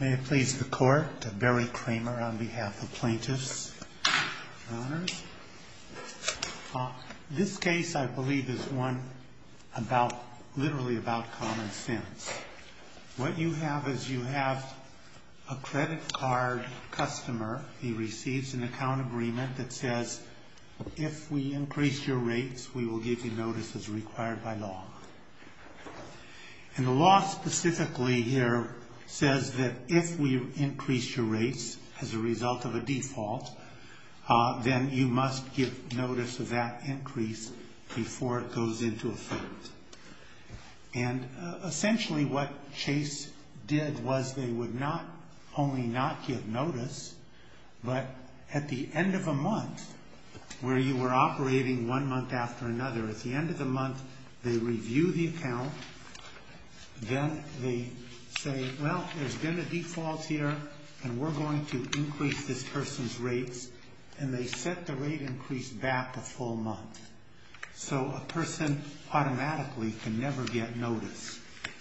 May it please the court, Barry Kramer on behalf of plaintiffs and owners. This case, I believe, is one literally about common sense. What you have is you have a credit card customer. He receives an account agreement that says, if we increase your rates, we will give you notices required by law. And the law specifically here says that if we increase your rates as a result of a default, then you must give notice of that increase before it goes into effect. And essentially what Chase did was they would not only not give notice, but at the end of a month, where you were operating one month after another, at the end of the month, they review the account, then they say, well, there's been a default here, and we're going to increase this person's rates, and they set the rate increase back a full month. So a person automatically can never get notice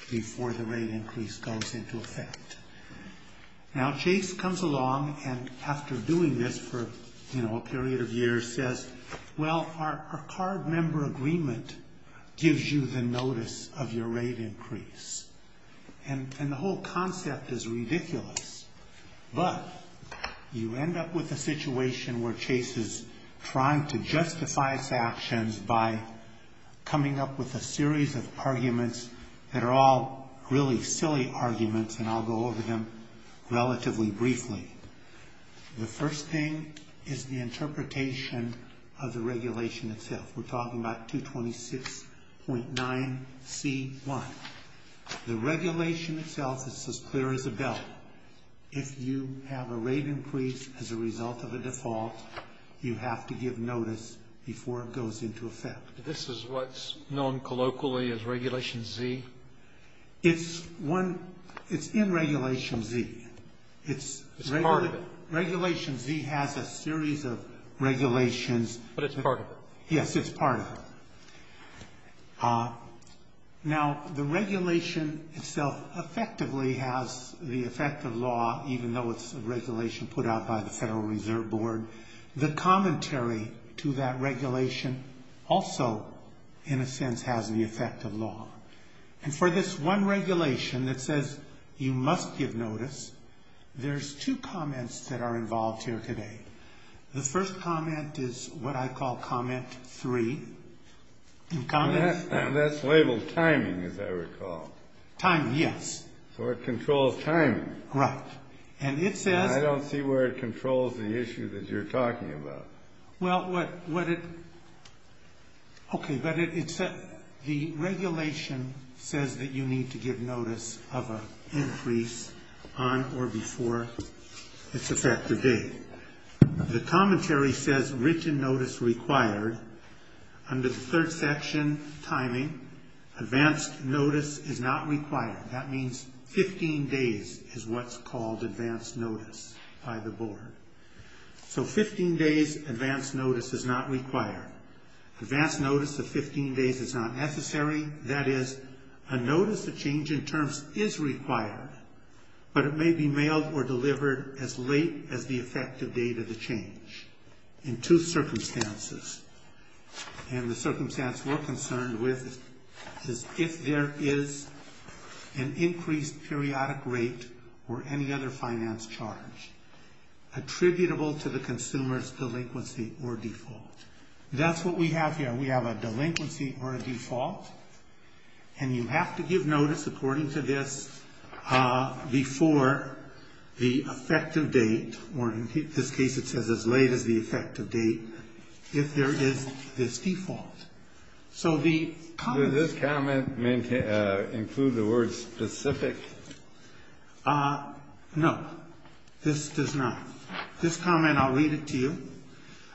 before the rate increase goes into effect. Now Chase comes along, and after doing this for a period of years, says, well, our card member agreement gives you the notice of your rate increase. And the whole concept is ridiculous. But you end up with a situation where Chase is trying to justify his actions by coming up with a series of arguments that are all really silly arguments, and I'll go over them relatively briefly. The first thing is the interpretation of the regulation itself. We're talking about 226.9C1. The regulation itself is as clear as a bell. If you have a rate increase as a result of a default, you have to give notice before it goes into effect. This is what's known colloquially as Regulation Z? It's in Regulation Z. It's part of it. Regulation Z has a series of regulations. But it's part of it. Yes, it's part of it. Now, the regulation itself effectively has the effect of law, even though it's a regulation put out by the Federal Reserve Board. The commentary to that regulation also, in a sense, has the effect of law. And for this one regulation that says you must give notice, there's two comments that are involved here today. The first comment is what I call Comment 3. That's labeled timing, as I recall. Timing, yes. So it controls timing. Right. I don't see where it controls the issue that you're talking about. Well, okay, but the regulation says that you need to give notice of an increase on or before its effective date. The commentary says written notice required. Under the third section, timing, advanced notice is not required. That means 15 days is what's called advanced notice by the board. So 15 days advanced notice is not required. Advanced notice of 15 days is not necessary. That is, a notice of change in terms is required, but it may be mailed or delivered as late as the effective date of the change in two circumstances. And the circumstance we're concerned with is if there is an increased periodic rate or any other finance charge attributable to the consumer's delinquency or default. That's what we have here. We have a delinquency or a default, and you have to give notice according to this before the effective date, or in this case it says as late as the effective date, if there is this default. So the comment... Does this comment include the word specific? No, this does not. This comment, I'll read it to you.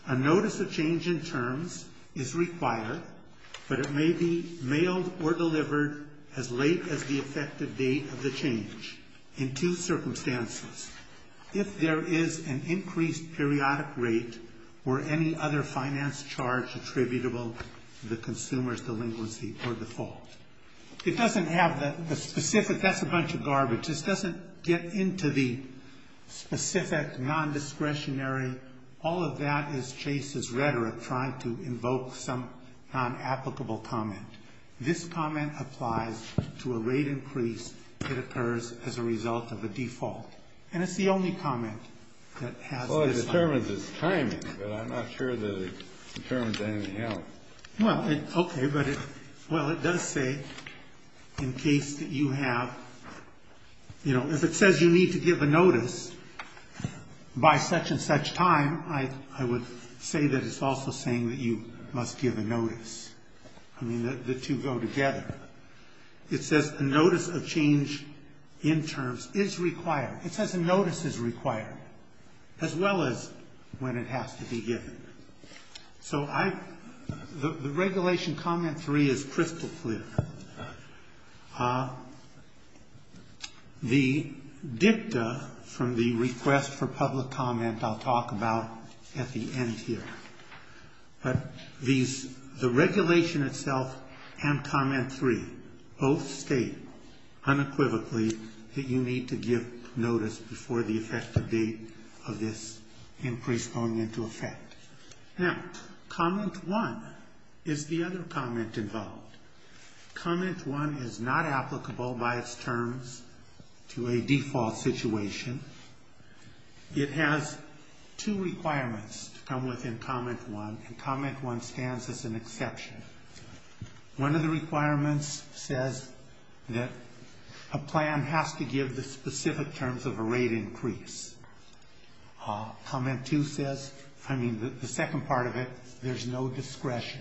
A notice of change in terms is required, but it may be mailed or delivered as late as the effective date of the change in two circumstances. If there is an increased periodic rate or any other finance charge attributable to the consumer's delinquency or default. It doesn't have the specific. That's a bunch of garbage. This doesn't get into the specific, non-discretionary. All of that is Chase's rhetoric trying to invoke some non-applicable comment. This comment applies to a rate increase that occurs as a result of a default, and it's the only comment that has this... Well, it determines its timing, but I'm not sure that it determines anything else. Well, okay, but it does say in case that you have... You know, if it says you need to give a notice by such and such time, I would say that it's also saying that you must give a notice. I mean, the two go together. It says a notice of change in terms is required. It says a notice is required as well as when it has to be given. So I... The regulation comment three is crystal clear. The dicta from the request for public comment I'll talk about at the end here. But these... The regulation itself and comment three both state unequivocally that you need to give notice before the effective date of this increase going into effect. Now, comment one is the other comment involved. Comment one is not applicable by its terms to a default situation. It has two requirements to come within comment one, and comment one stands as an exception. One of the requirements says that a plan has to give the specific terms of a rate increase. Comment two says... I mean, the second part of it, there's no discretion.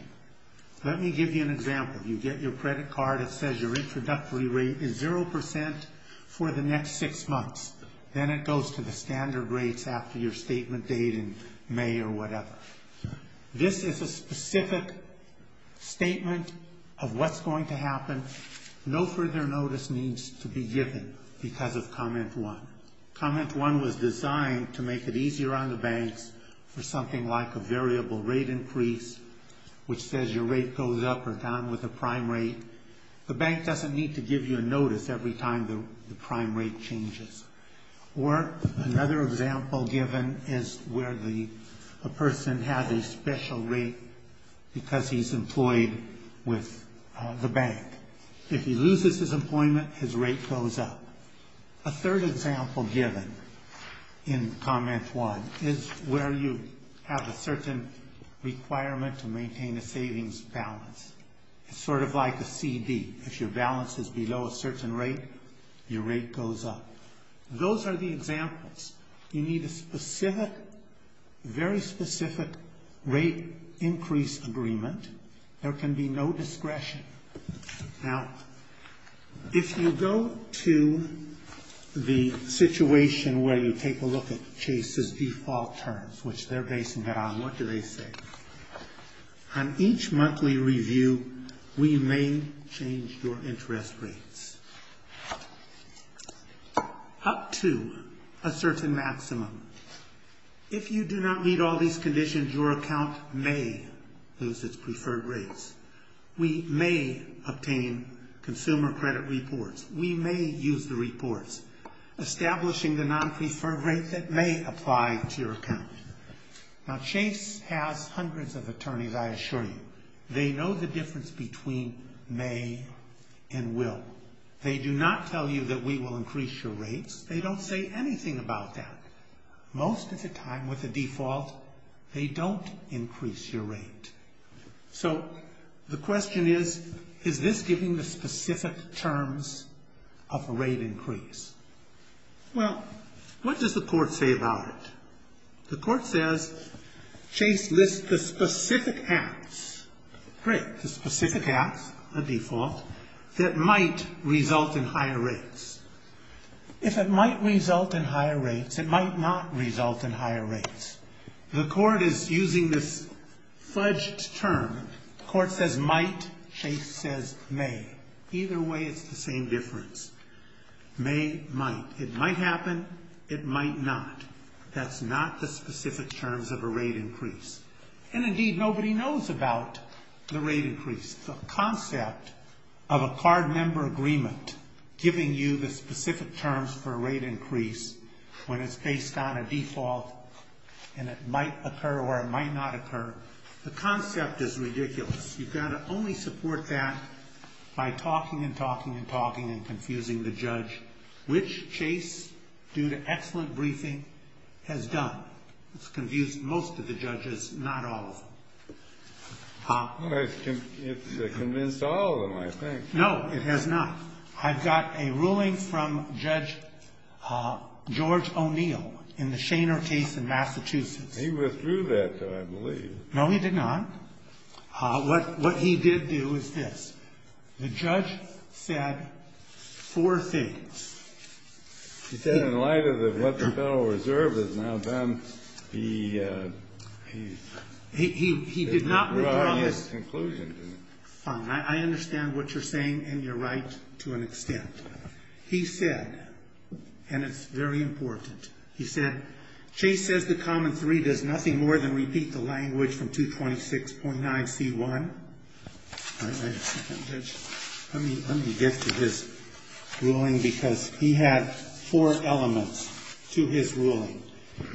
Let me give you an example. You get your credit card. It says your introductory rate is 0% for the next six months. Then it goes to the standard rates after your statement date in May or whatever. This is a specific statement of what's going to happen. No further notice needs to be given because of comment one. Comment one was designed to make it easier on the banks for something like a variable rate increase, which says your rate goes up or down with the prime rate. The bank doesn't need to give you a notice every time the prime rate changes. Or another example given is where a person has a special rate because he's employed with the bank. If he loses his employment, his rate goes up. A third example given in comment one is where you have a certain requirement to maintain a savings balance. It's sort of like a CD. If your balance is below a certain rate, your rate goes up. Those are the examples. You need a very specific rate increase agreement. There can be no discretion. Now, if you go to the situation where you take a look at Chase's default terms, which they're based on, what do they say? On each monthly review, we may change your interest rates up to a certain maximum. If you do not meet all these conditions, your account may lose its preferred rates. We may obtain consumer credit reports. We may use the reports, establishing the non-preferred rate that may apply to your account. Now, Chase has hundreds of attorneys, I assure you. They know the difference between may and will. They do not tell you that we will increase your rates. They don't say anything about that. Most of the time, with the default, they don't increase your rate. So the question is, is this giving the specific terms of a rate increase? Well, what does the court say about it? The court says Chase lists the specific acts, great, the specific acts, the default, that might result in higher rates. If it might result in higher rates, it might not result in higher rates. The court is using this fudged term. The court says might, Chase says may. Either way, it's the same difference. May, might. It might happen, it might not. That's not the specific terms of a rate increase. And, indeed, nobody knows about the rate increase. The concept of a card member agreement giving you the specific terms for a rate increase when it's based on a default and it might occur or it might not occur, the concept is ridiculous. You've got to only support that by talking and talking and talking and confusing the judge, which Chase, due to excellent briefing, has done. It's confused most of the judges, not all of them. Well, it's convinced all of them, I think. No, it has not. I've got a ruling from Judge George O'Neill in the Shainer case in Massachusetts. He withdrew that, though, I believe. No, he did not. What he did do is this. The judge said four things. He said in light of what the Federal Reserve has now done, he... He did not withdraw this. Well, I have a conclusion to that. Fine. I understand what you're saying, and you're right to an extent. He said, and it's very important, he said, Chase says the common three does nothing more than repeat the language from 226.9c1. Let me get to his ruling because he had four elements to his ruling.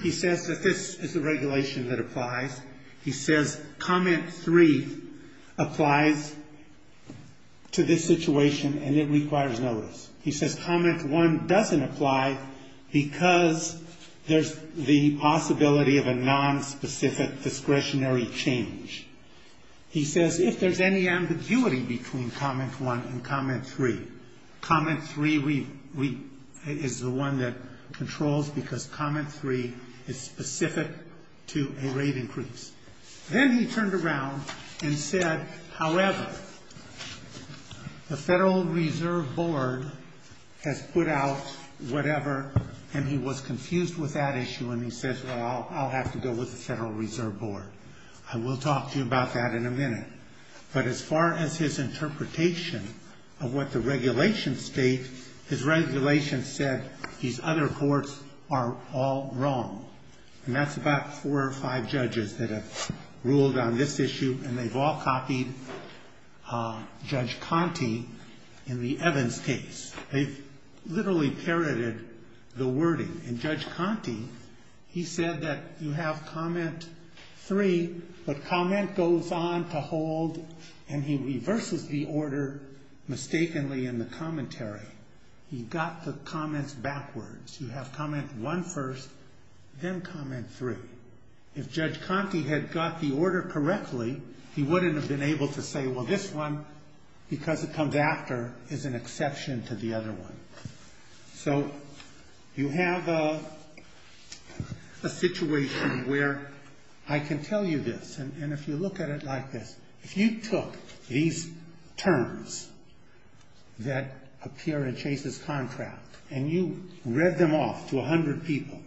He says that this is the regulation that applies. He says common three applies to this situation, and it requires notice. He says common one doesn't apply because there's the possibility of a nonspecific discretionary change. He says if there's any ambiguity between common one and common three, common three is the one that controls because common three is specific to a rate increase. Then he turned around and said, however, the Federal Reserve Board has put out whatever, and he was confused with that issue, and he says, well, I'll have to go with the Federal Reserve Board. I will talk to you about that in a minute. But as far as his interpretation of what the regulations state, his regulations said these other courts are all wrong, and that's about four or five judges that have ruled on this issue, and they've all copied Judge Conte in the Evans case. They've literally parroted the wording, and Judge Conte, he said that you have comment three, but comment goes on to hold, and he reverses the order mistakenly in the commentary. He got the comments backwards. You have comment one first, then comment three. If Judge Conte had got the order correctly, he wouldn't have been able to say, well, this one, because it comes after, is an exception to the other one. So you have a situation where I can tell you this, and if you look at it like this, if you took these terms that appear in Chase's contract and you read them off to 100 people,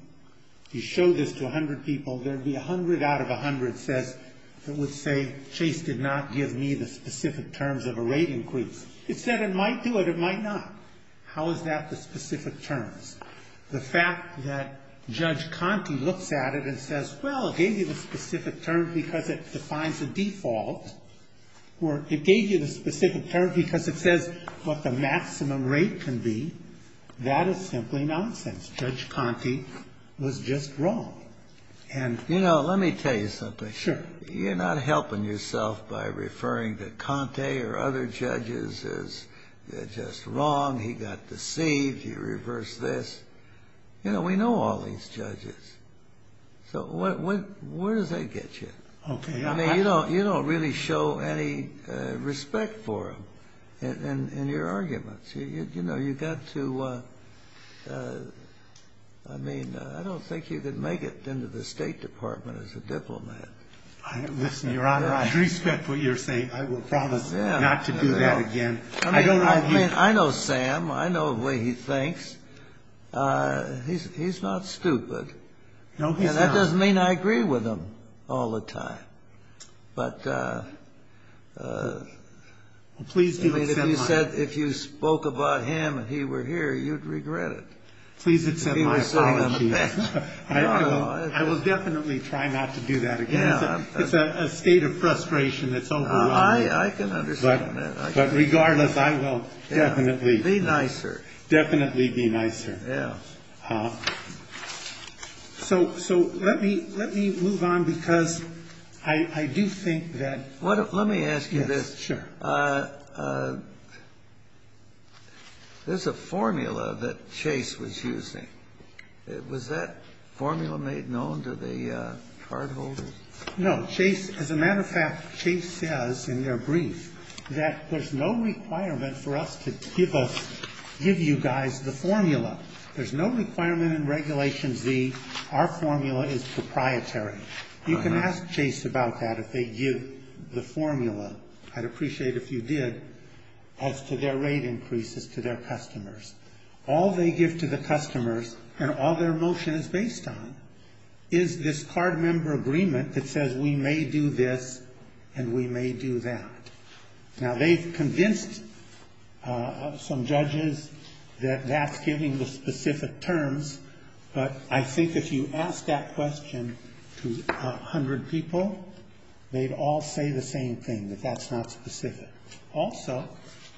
you show this to 100 people, there would be 100 out of 100 says, that would say Chase did not give me the specific terms of a rate increase. It said it might do it, it might not. How is that the specific terms? The fact that Judge Conte looks at it and says, well, it gave you the specific terms because it defines a default, or it gave you the specific terms because it says what the maximum rate can be, that is simply nonsense. Judge Conte was just wrong. And you know, let me tell you something. You're not helping yourself by referring to Conte or other judges as just wrong, he got deceived, he reversed this. You know, we know all these judges. So where does that get you? I mean, you don't really show any respect for them in your arguments. You know, you got to, I mean, I don't think you could make it into the State Department as a diplomat. Listen, Your Honor, I respect what you're saying. I will promise not to do that again. I mean, I know Sam. I know the way he thinks. He's not stupid. No, he's not. And that doesn't mean I agree with him all the time. But if you spoke about him and he were here, you'd regret it. Please accept my apologies. I will definitely try not to do that again. It's a state of frustration that's overwhelming. I can understand that. But regardless, I will definitely. Be nicer. Definitely be nicer. Yeah. So let me move on because I do think that. Let me ask you this. Sure. There's a formula that Chase was using. Was that formula made known to the cardholders? No, Chase, as a matter of fact, Chase says in their brief that there's no requirement for us to give us, give you guys the formula. There's no requirement in Regulation Z. Our formula is proprietary. You can ask Chase about that if they give the formula. I'd appreciate if you did as to their rate increases to their customers. All they give to the customers and all their motion is based on is this card member agreement that says we may do this and we may do that. Now, they've convinced some judges that that's giving the specific terms. But I think if you ask that question to 100 people, they'd all say the same thing, that that's not specific. Also,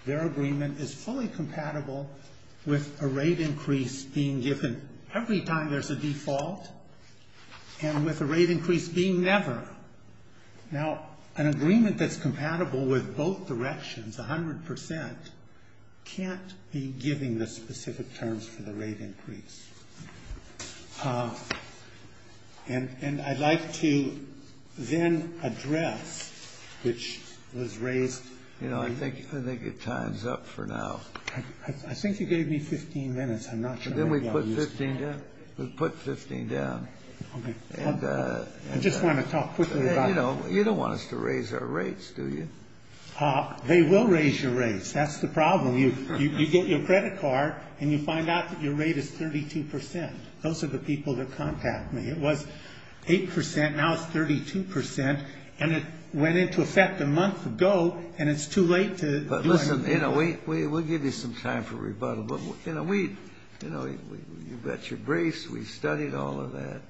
their agreement is fully compatible with a rate increase being given every time there's a default and with a rate increase being never. Now, an agreement that's compatible with both directions, 100 percent, can't be giving the specific terms for the rate increase. And I'd like to then address, which was raised. You know, I think it times up for now. I think you gave me 15 minutes. I'm not sure. Then we put 15 down. We put 15 down. Okay. I just want to talk quickly about it. You don't want us to raise our rates, do you? They will raise your rates. That's the problem. You get your credit card and you find out that your rate is 32 percent. Those are the people that contact me. It was 8 percent. Now it's 32 percent. And it went into effect a month ago, and it's too late to. But, listen, you know, we'll give you some time for rebuttal. But, you know, you've got your briefs. We've studied all of that.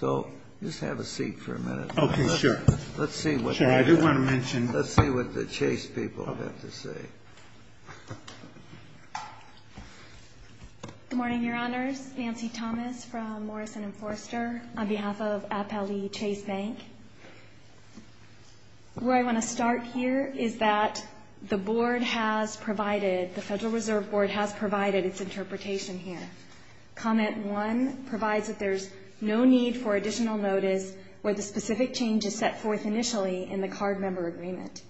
So just have a seat for a minute. Okay, sure. Let's see what the Chase people have to say. Good morning, Your Honors. Nancy Thomas from Morrison & Forster on behalf of Appellee Chase Bank. Where I want to start here is that the Board has provided, the Federal Reserve Board has provided its interpretation here. Comment one provides that there's no need for additional notice where the specific change is set forth initially in the card member agreement.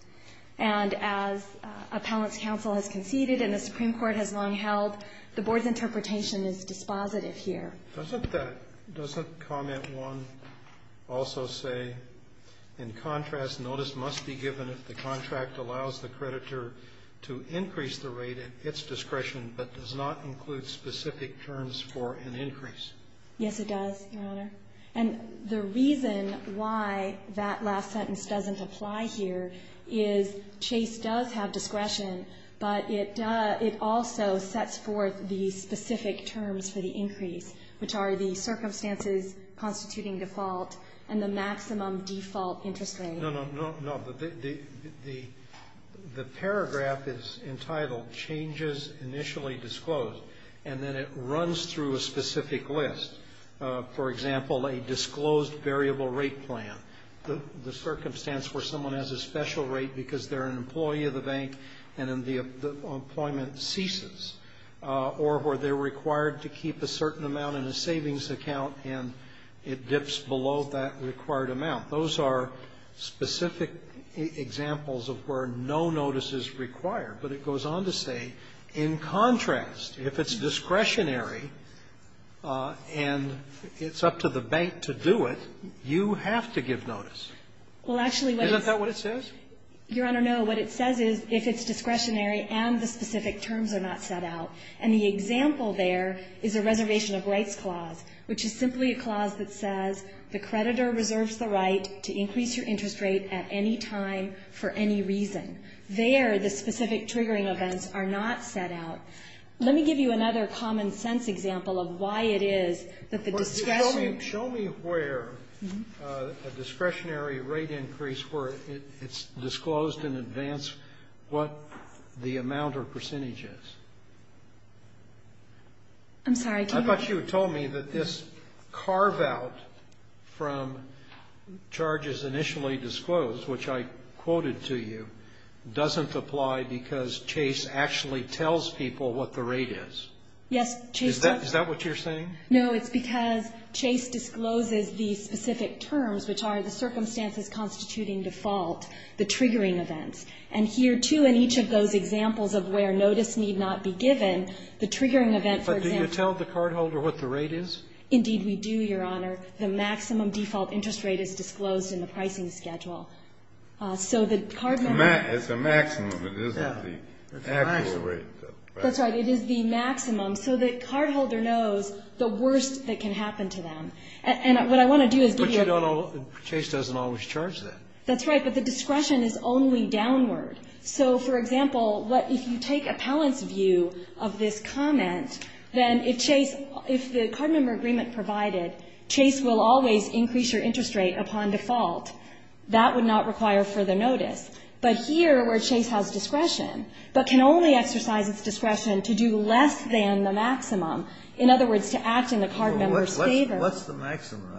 And as appellant's counsel has conceded and the Supreme Court has long held, the Board's interpretation is dispositive here. Doesn't that, doesn't comment one also say, in contrast, notice must be given if the contract allows the creditor to increase the rate at its discretion but does not include specific terms for an increase? Yes, it does, Your Honor. And the reason why that last sentence doesn't apply here is Chase does have discretion, but it does, it also sets forth the specific terms for the increase, which are the circumstances constituting default and the maximum default interest rate. No, no, no. The paragraph is entitled, changes initially disclosed. And then it runs through a specific list. For example, a disclosed variable rate plan, the circumstance where someone has a special rate because they're an employee of the bank and the employment ceases, or where they're required to keep a certain amount in a savings account and it dips below that required amount. Those are specific examples of where no notice is required. But it goes on to say, in contrast, if it's discretionary and it's up to the bank to do it, you have to give notice. Isn't that what it says? Your Honor, no. What it says is if it's discretionary and the specific terms are not set out. And the example there is a reservation of rights clause, which is simply a clause that says the creditor reserves the right to increase your interest rate at any time for any reason. There, the specific triggering events are not set out. Let me give you another common-sense example of why it is that the discretion ---- Show me where a discretionary rate increase where it's disclosed in advance what the amount or percentage is. I'm sorry. I thought you had told me that this carve-out from charges initially disclosed, which I quoted to you, doesn't apply because Chase actually tells people what the rate is. Yes, Chase does. Is that what you're saying? No. It's because Chase discloses the specific terms, which are the circumstances constituting default, the triggering events. And here, too, in each of those examples of where notice need not be given, the triggering event, for example ---- But do you tell the cardholder what the rate is? Indeed, we do, Your Honor. default interest rate is disclosed in the pricing schedule. So the cardmember ---- It's the maximum. It isn't the actual rate. That's right. It is the maximum. So the cardholder knows the worst that can happen to them. And what I want to do is give you a ---- But you don't always ---- Chase doesn't always charge that. That's right. But the discretion is only downward. So, for example, if you take appellant's view of this comment, then if Chase ---- Well, if the cardmember agreement provided, Chase will always increase your interest rate upon default. That would not require further notice. But here, where Chase has discretion, but can only exercise its discretion to do less than the maximum, in other words, to act in the cardmember's favor ---- What's the maximum, though?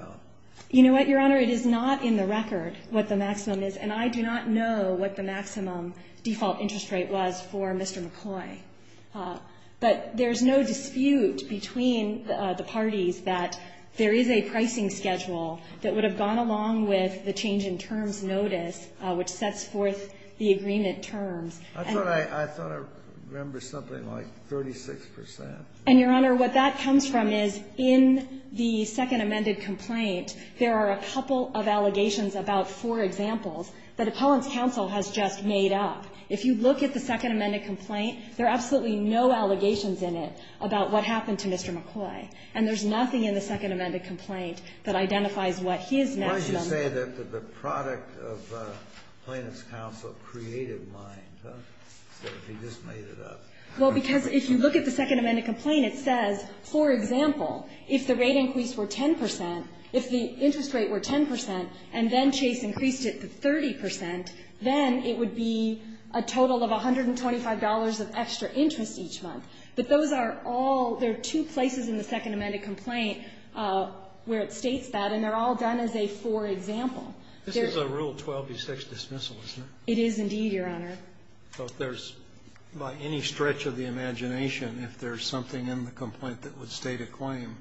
You know what, Your Honor? It is not in the record what the maximum is. And I do not know what the maximum default interest rate was for Mr. McCloy. But there's no dispute between the parties that there is a pricing schedule that would have gone along with the change in terms notice, which sets forth the agreement terms. I thought I remember something like 36 percent. And, Your Honor, what that comes from is in the Second Amended Complaint, there are a couple of allegations about four examples that Appellant's counsel has just made up. If you look at the Second Amended Complaint, there are absolutely no allegations in it about what happened to Mr. McCloy. And there's nothing in the Second Amended Complaint that identifies what his maximum is. Kennedy. Why did you say that the product of Appellant's counsel created mine? As if he just made it up. Well, because if you look at the Second Amended Complaint, it says, for example, if the rate increase were 10 percent, if the interest rate were 10 percent and then there would be a total of $125 of extra interest each month. But those are all, there are two places in the Second Amended Complaint where it states that, and they're all done as a for example. This is a Rule 12b6 dismissal, isn't it? It is, indeed, Your Honor. So if there's, by any stretch of the imagination, if there's something in the complaint that would state a claim,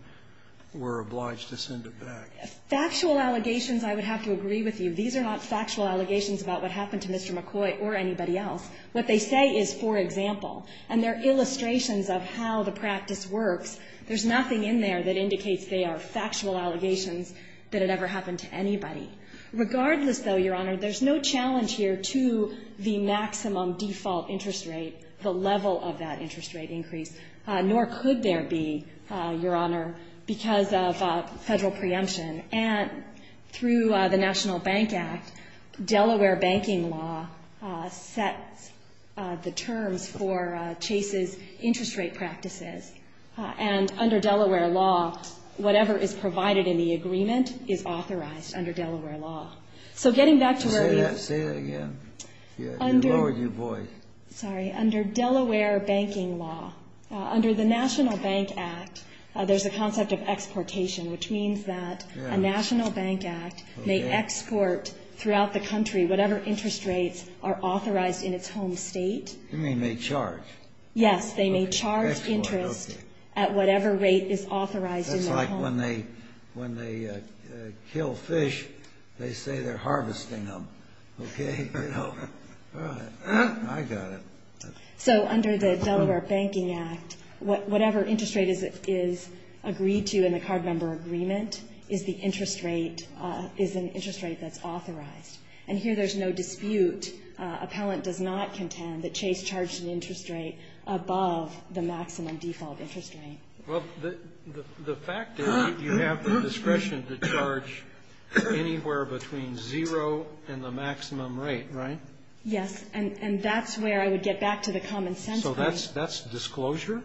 we're obliged to send it back? Factual allegations, I would have to agree with you. These are not factual allegations about what happened to Mr. McCoy or anybody else. What they say is for example. And they're illustrations of how the practice works. There's nothing in there that indicates they are factual allegations that had ever happened to anybody. Regardless, though, Your Honor, there's no challenge here to the maximum default interest rate, the level of that interest rate increase. Nor could there be, Your Honor, because of Federal preemption. And through the National Bank Act, Delaware banking law sets the terms for Chase's interest rate practices. And under Delaware law, whatever is provided in the agreement is authorized under Delaware law. So getting back to where we. Say that again. You lower your voice. Sorry. Under Delaware banking law, under the National Bank Act, there's a concept of A National Bank Act may export throughout the country whatever interest rates are authorized in its home state. You mean they charge? Yes. They may charge interest at whatever rate is authorized in their home. That's like when they kill fish, they say they're harvesting them. Okay? I got it. So under the Delaware Banking Act, whatever interest rate is agreed to in the card member agreement is the interest rate, is an interest rate that's authorized. And here there's no dispute. Appellant does not contend that Chase charged an interest rate above the maximum default interest rate. Well, the fact is you have the discretion to charge anywhere between zero and the maximum rate, right? Yes. And that's where I would get back to the common sense. So that's disclosure?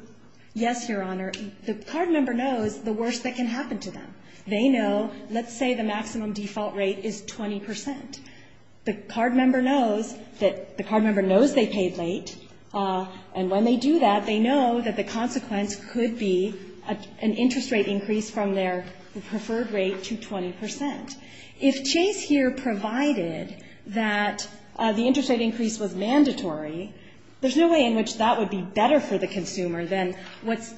Yes, Your Honor. The card member knows the worst that can happen to them. They know, let's say the maximum default rate is 20 percent. The card member knows that the card member knows they paid late. And when they do that, they know that the consequence could be an interest rate increase from their preferred rate to 20 percent. If Chase here provided that the interest rate increase was mandatory, there's no way in which that would be better for the consumer than what's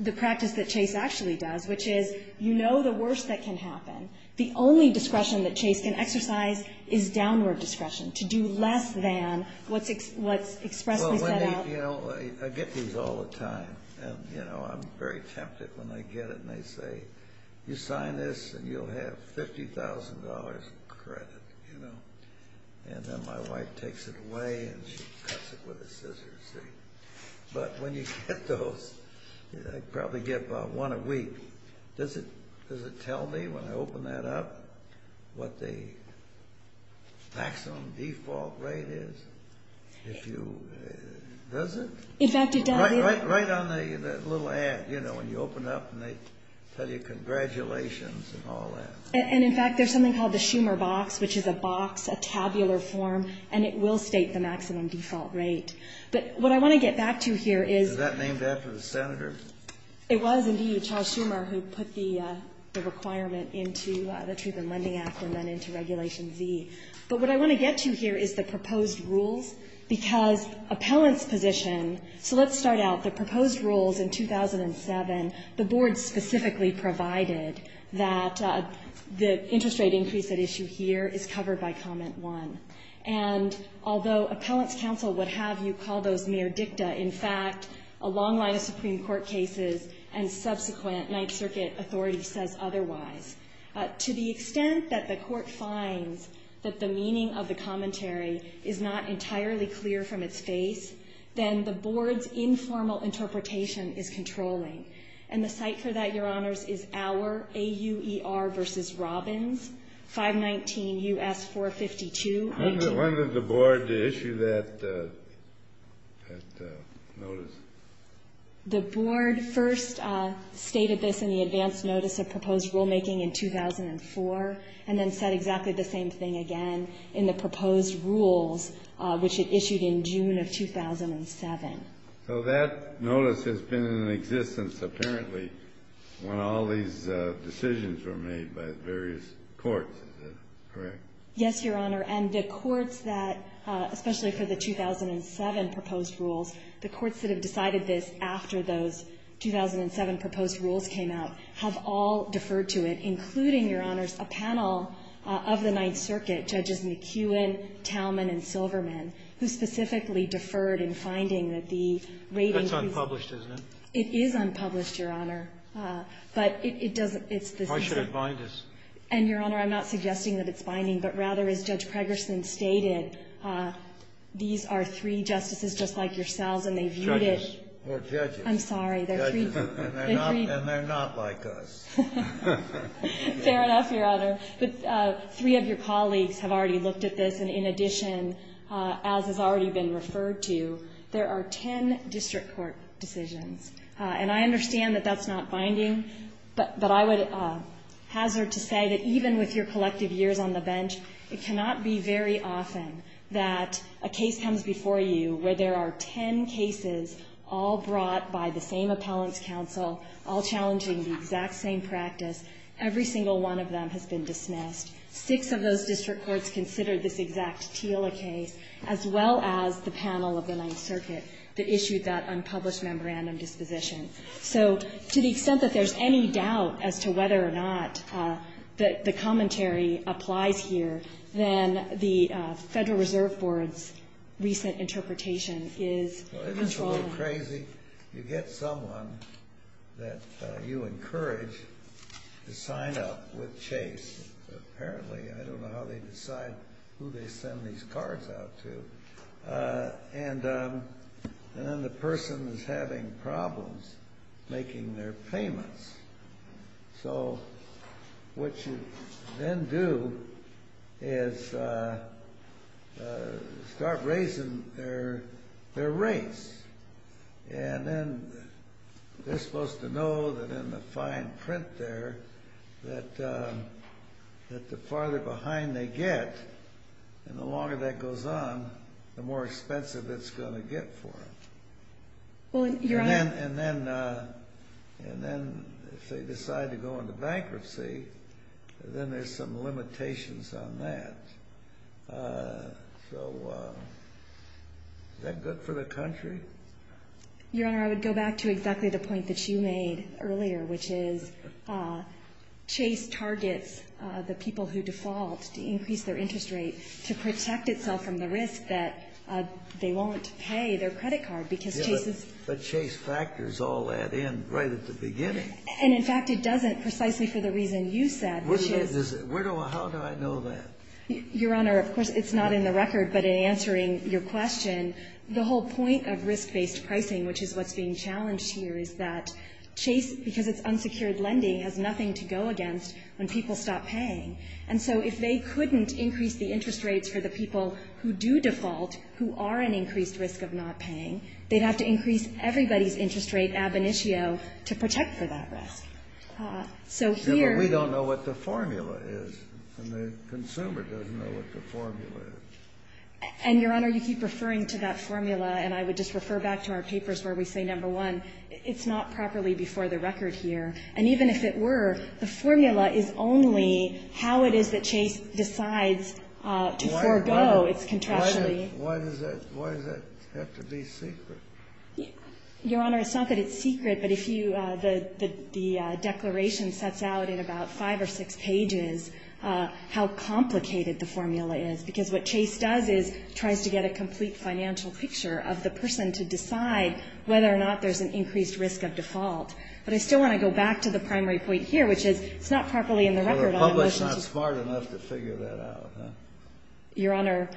the practice that Chase actually does, which is you know the worst that can happen. The only discretion that Chase can exercise is downward discretion, to do less than what's expressly set out. Well, Wendy, you know, I get these all the time. And, you know, I'm very tempted when I get it and they say, you sign this and you'll have $50,000 in credit, you know. And then my wife takes it away and she cuts it with a scissor, see. But when you get those, I probably get about one a week. Does it tell me when I open that up what the maximum default rate is? If you, does it? In fact, it does. Right on the little ad, you know, when you open up and they tell you congratulations and all that. And, in fact, there's something called the Schumer box, which is a box, a tabular form, and it will state the maximum default rate. But what I want to get back to here is. Is that named after the senator? It was, indeed, Charles Schumer who put the requirement into the Truth in Lending Act and then into Regulation Z. But what I want to get to here is the proposed rules, because appellant's position. So let's start out. The proposed rules in 2007, the board specifically provided that the interest rate increase at issue here is covered by Comment 1. And although appellant's counsel would have you call those mere dicta, in fact, a long line of Supreme Court cases and subsequent Ninth Circuit authority says otherwise. To the extent that the court finds that the meaning of the commentary is not entirely clear from its face, then the board's informal interpretation is controlling. And the site for that, Your Honors, is Auer, A-U-E-R v. Robbins, 519 U.S. 452. When did the board issue that notice? The board first stated this in the advance notice of proposed rulemaking in 2004 and then said exactly the same thing again in the proposed rules, which it issued in June of 2007. So that notice has been in existence apparently when all these decisions were made by various courts. Is that correct? Yes, Your Honor. And the courts that, especially for the 2007 proposed rules, the courts that have decided this after those 2007 proposed rules came out have all deferred to it, including, Your Honors, a panel of the Ninth Circuit, Judges McKeown, Tallman, and Silverman, who specifically deferred in finding that the rating was unpublished. That's unpublished, isn't it? It is unpublished, Your Honor. But it doesn't – it's the same thing. Why should it bind us? And, Your Honor, I'm not suggesting that it's binding. But rather, as Judge Pregerson stated, these are three justices just like yourselves and they viewed it as – Judges. We're judges. I'm sorry. They're free people. And they're not like us. Fair enough, Your Honor. But three of your colleagues have already looked at this. And in addition, as has already been referred to, there are ten district court decisions. And I understand that that's not binding. But I would hazard to say that even with your collective years on the bench, it cannot be very often that a case comes before you where there are ten cases all brought by the same appellant's counsel, all challenging the exact same practice. Every single one of them has been dismissed. Six of those district courts considered this exact TILA case, as well as the panel of the Ninth Circuit that issued that unpublished memorandum disposition. So to the extent that there's any doubt as to whether or not the commentary applies here, then the Federal Reserve Board's recent interpretation is – Well, isn't it a little crazy? You get someone that you encourage to sign up with Chase. Apparently, I don't know how they decide who they send these cards out to. And then the person is having problems making their payments. So what you then do is start raising their rates. And then they're supposed to know that in the fine print there that the farther behind they get, and the longer that goes on, the more expensive it's going to get for them. And then if they decide to go into bankruptcy, then there's some limitations on that. So is that good for the country? Your Honor, I would go back to exactly the point that you made earlier, which is Chase targets the people who default to increase their interest rate to protect itself from the risk that they won't pay their credit card, because Chase is – But Chase factors all that in right at the beginning. And, in fact, it doesn't, precisely for the reason you said, which is – How do I know that? Your Honor, of course, it's not in the record. But in answering your question, the whole point of risk-based pricing, which is what's being challenged here, is that Chase, because it's unsecured lending, has nothing to go against when people stop paying. And so if they couldn't increase the interest rates for the people who do default, who are an increased risk of not paying, they'd have to increase everybody's interest rate ab initio to protect for that risk. So here – But we don't know what the formula is, and the consumer doesn't know what the formula is. And, Your Honor, you keep referring to that formula, and I would just refer back to our papers where we say, number one, it's not properly before the record here. And even if it were, the formula is only how it is that Chase decides to forego its contractually – Why does that have to be secret? Your Honor, it's not that it's secret, but if you – the declaration sets out in about five or six pages how complicated the formula is, because what Chase does is tries to get a complete financial picture of the person to decide whether or not there's an increased risk of default. But I still want to go back to the primary point here, which is it's not properly in the record on – Well, the public's not smart enough to figure that out, huh? Your Honor,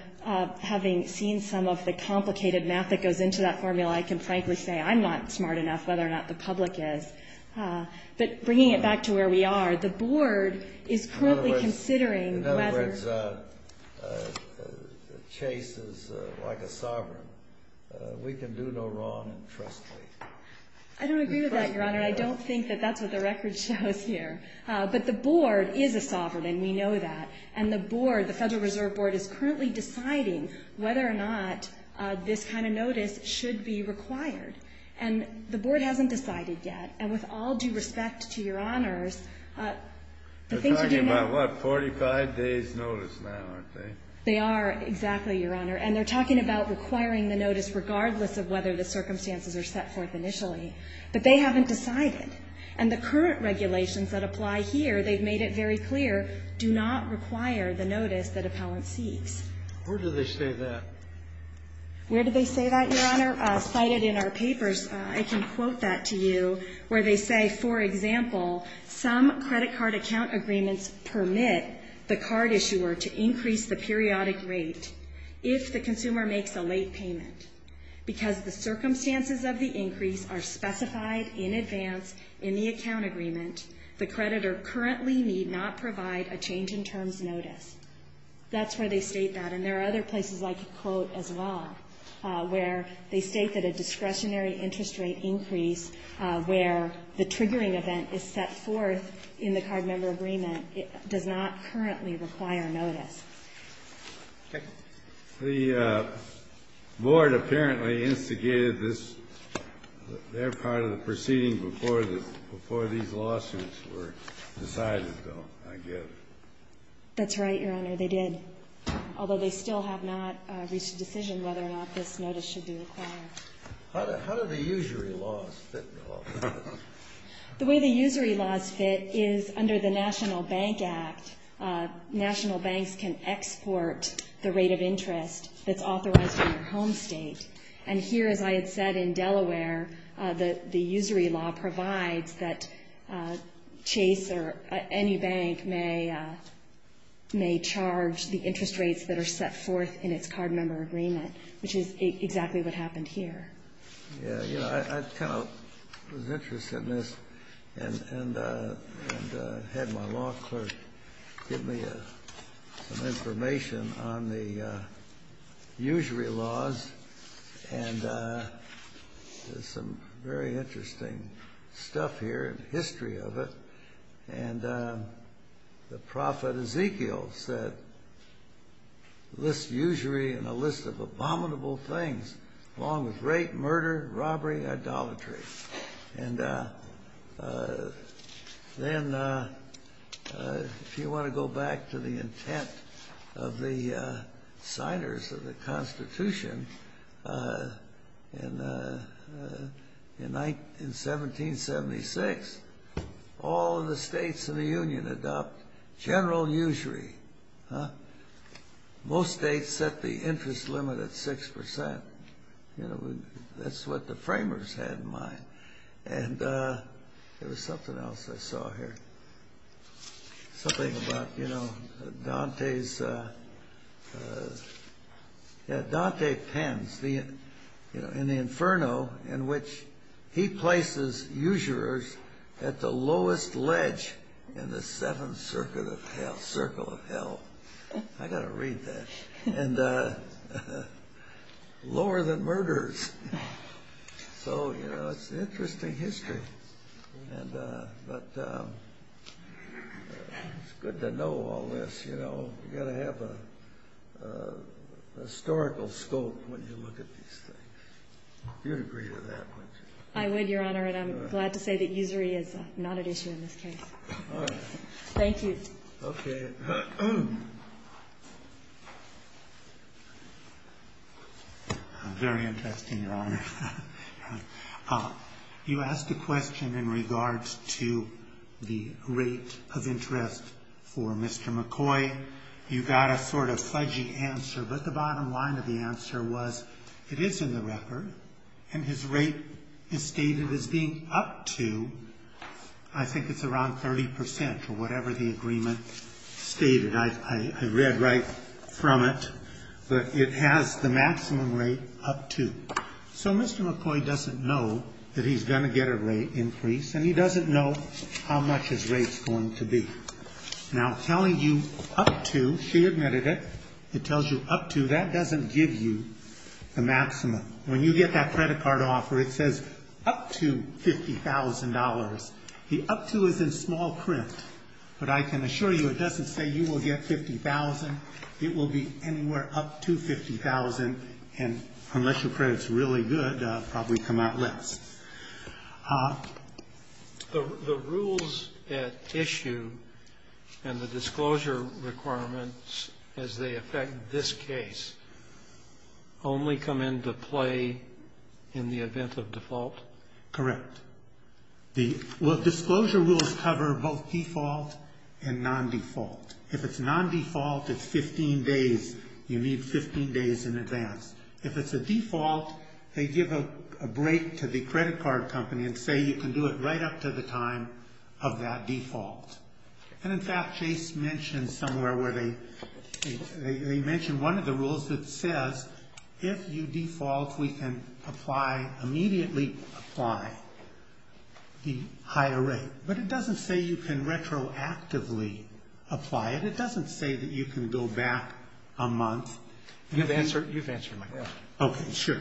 having seen some of the complicated math that goes into that formula, I can frankly say I'm not smart enough whether or not the public is. But bringing it back to where we are, the Board is currently considering whether – In other words, Chase is like a sovereign. We can do no wrong and trust me. I don't agree with that, Your Honor. I don't think that that's what the record shows here. But the Board is a sovereign, and we know that. And the Board, the Federal Reserve Board, is currently deciding whether or not this kind of notice should be required. And the Board hasn't decided yet. And with all due respect to Your Honors, the things we do know – They're talking about, what, 45 days' notice now, aren't they? They are exactly, Your Honor. And they're talking about requiring the notice regardless of whether the But they haven't decided. And the current regulations that apply here, they've made it very clear, do not require the notice that appellant seeks. Where do they say that? Where do they say that, Your Honor? Cited in our papers, I can quote that to you, where they say, for example, some credit card account agreements permit the card issuer to increase the periodic rate if the consumer makes a late payment because the circumstances of the increase are specified in advance in the account agreement. The creditor currently need not provide a change in terms notice. That's where they state that. And there are other places I could quote as well, where they state that a discretionary interest rate increase where the triggering event is set forth in the card member agreement does not currently require notice. Okay. The board apparently instigated this. They're part of the proceeding before these lawsuits were decided, though, I guess. That's right, Your Honor. They did, although they still have not reached a decision whether or not this notice should be required. How do the usury laws fit at all? The way the usury laws fit is under the National Bank Act. National banks can export the rate of interest that's authorized in their home state. And here, as I had said, in Delaware, the usury law provides that Chase or any bank may charge the interest rates that are set forth in its card member agreement, which is exactly what happened here. Yeah, you know, I kind of was interested in this and had my law clerk give me some information on the usury laws. And there's some very interesting stuff here and history of it. And the prophet Ezekiel said, list usury in a list of abominable things, along with rape, murder, robbery, idolatry. And then if you want to go back to the intent of the signers of the Constitution in 1776, all of the states in the Union adopt general usury. Most states set the interest limit at 6%. You know, that's what the framers had in mind. And there was something else I saw here. Something about, you know, Dante's, yeah, Dante pens in the Inferno in which he places usurers at the lowest ledge in the seventh circle of hell. I've got to read that. And lower than murderers. So, you know, it's an interesting history. But it's good to know all this, you know. You've got to have a historical scope when you look at these things. You'd agree to that, wouldn't you? I would, Your Honor. And I'm glad to say that usury is not an issue in this case. All right. Thank you. Okay. Very interesting, Your Honor. You asked a question in regards to the rate of interest for Mr. McCoy. You got a sort of fudgy answer. But the bottom line of the answer was it is in the record. And his rate is stated as being up to, I think it's around 30%, or whatever the agreement stated. I read right from it. But it has the maximum rate up to. So Mr. McCoy doesn't know that he's going to get a rate increase. And he doesn't know how much his rate's going to be. Now, telling you up to, she admitted it, it tells you up to, that doesn't give you the maximum. When you get that credit card offer, it says up to $50,000. The up to is in small print. But I can assure you it doesn't say you will get $50,000. It will be anywhere up to $50,000. And unless your credit's really good, it'll probably come out less. The rules at issue and the disclosure requirements as they affect this case only come into play in the event of default? Correct. The disclosure rules cover both default and non-default. If it's non-default, it's 15 days. You need 15 days in advance. If it's a default, they give a break to the credit card company and say you can do it right up to the time of that default. And in fact, Chase mentioned somewhere where they mentioned one of the rules that says if you default, we can apply, immediately apply the higher rate. But it doesn't say you can retroactively apply it. It doesn't say that you can go back a month. You've answered my question. Okay, sure.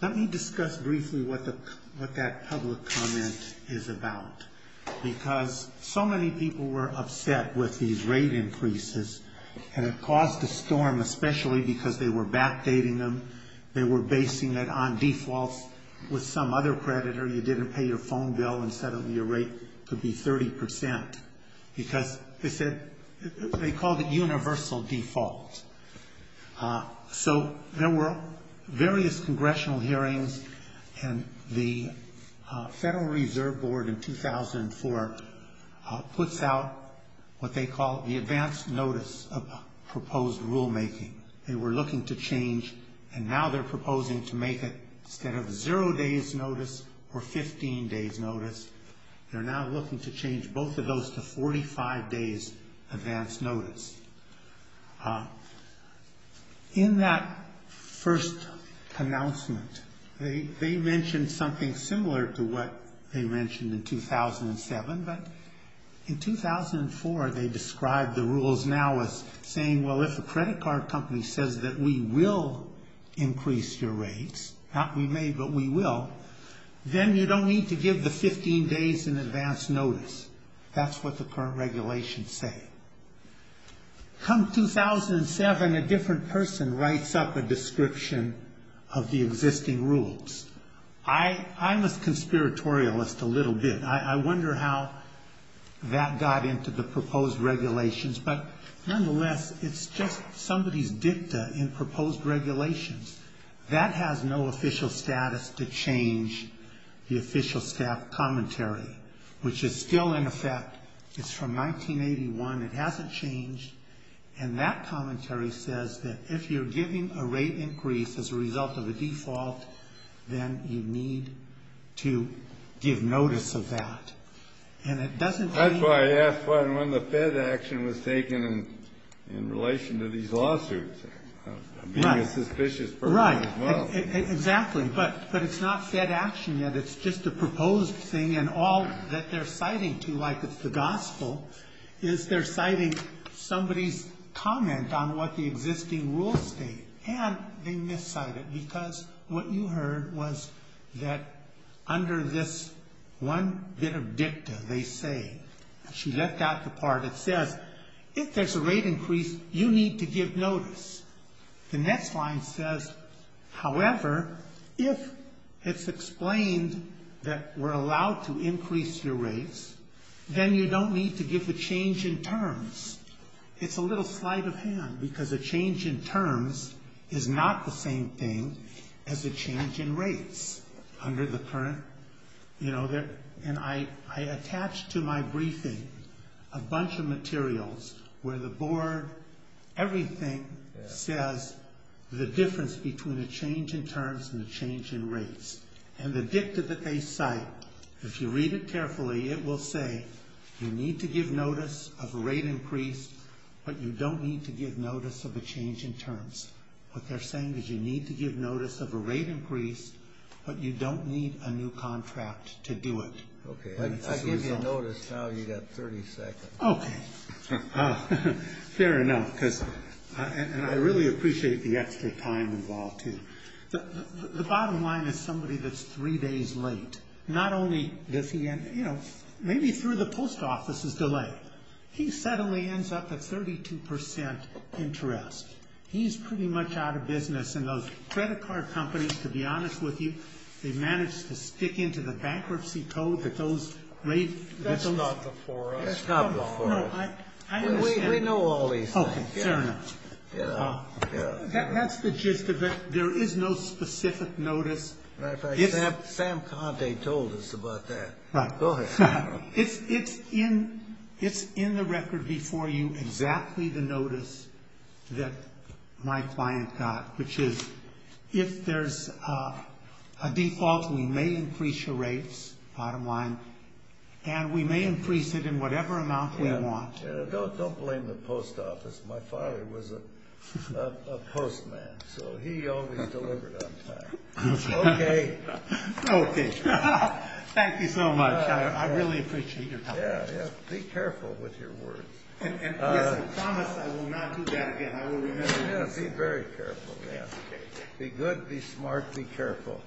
Let me discuss briefly what that public comment is about. Because so many people were upset with these rate increases, and it caused a storm, especially because they were backdating them. They were basing it on defaults with some other creditor. You didn't pay your phone bill instead of your rate could be 30%. Because they said they called it universal default. So there were various congressional hearings, and the Federal Reserve Board in 2004 puts out what they call the advanced notice of proposed rulemaking. They were looking to change, and now they're proposing to make it instead of zero days' notice or 15 days' notice. They're now looking to change both of those to 45 days' advanced notice. In that first announcement, they mentioned something similar to what they mentioned in 2007. But in 2004, they described the rules now as saying, well, if a credit card company says that we will increase your rates, not we may, but we will, then you don't need to give the 15 days in advance notice. That's what the current regulations say. Come 2007, a different person writes up a description of the existing rules. I'm a conspiratorialist a little bit. I wonder how that got into the proposed regulations. But nonetheless, it's just somebody's dicta in proposed regulations. That has no official status to change the official staff commentary, which is still in effect. It's from 1981. It hasn't changed. And that commentary says that if you're giving a rate increase as a result of a default, then you need to give notice of that. And it doesn't mean you have to. Right. Exactly. But it's not said action yet. It's just a proposed thing. And all that they're citing to, like it's the gospel, is they're citing somebody's comment on what the existing rules state. And they miscited it because what you heard was that under this one bit of dicta, they say, she left out the part that says, if there's a rate increase, you need to give notice. The next line says, however, if it's explained that we're allowed to increase your rates, then you don't need to give a change in terms. It's a little sleight of hand because a change in terms is not the same thing as a change in rates. And I attached to my briefing a bunch of materials where the board, everything, says the difference between a change in terms and a change in rates. And the dicta that they cite, if you read it carefully, it will say, you need to give notice of a rate increase, but you don't need to give notice of a change in terms. What they're saying is you need to give notice of a rate increase, but you don't need a new contract to do it. Okay. I gave you notice, now you got 30 seconds. Okay. Fair enough. And I really appreciate the extra time involved, too. The bottom line is somebody that's three days late. Not only does he, you know, maybe through the post office's delay, he suddenly ends up at 32% interest. He's pretty much out of business. And those credit card companies, to be honest with you, they managed to stick into the bankruptcy code that those rates. That's not before us. That's not before us. We know all these things. Okay. Fair enough. That's the gist of it. There is no specific notice. Sam Conte told us about that. Right. Go ahead. It's in the record before you exactly the notice that my client got, which is if there's a default, we may increase your rates, bottom line, and we may increase it in whatever amount we want. Don't blame the post office. My father was a postman, so he always delivered on time. Okay. Okay. Thank you so much. I really appreciate your time. Yeah, yeah. Be careful with your words. Yes, I promise I will not do that again. I will remember. Yes, be very careful. Yes, okay. Be good, be smart, be careful.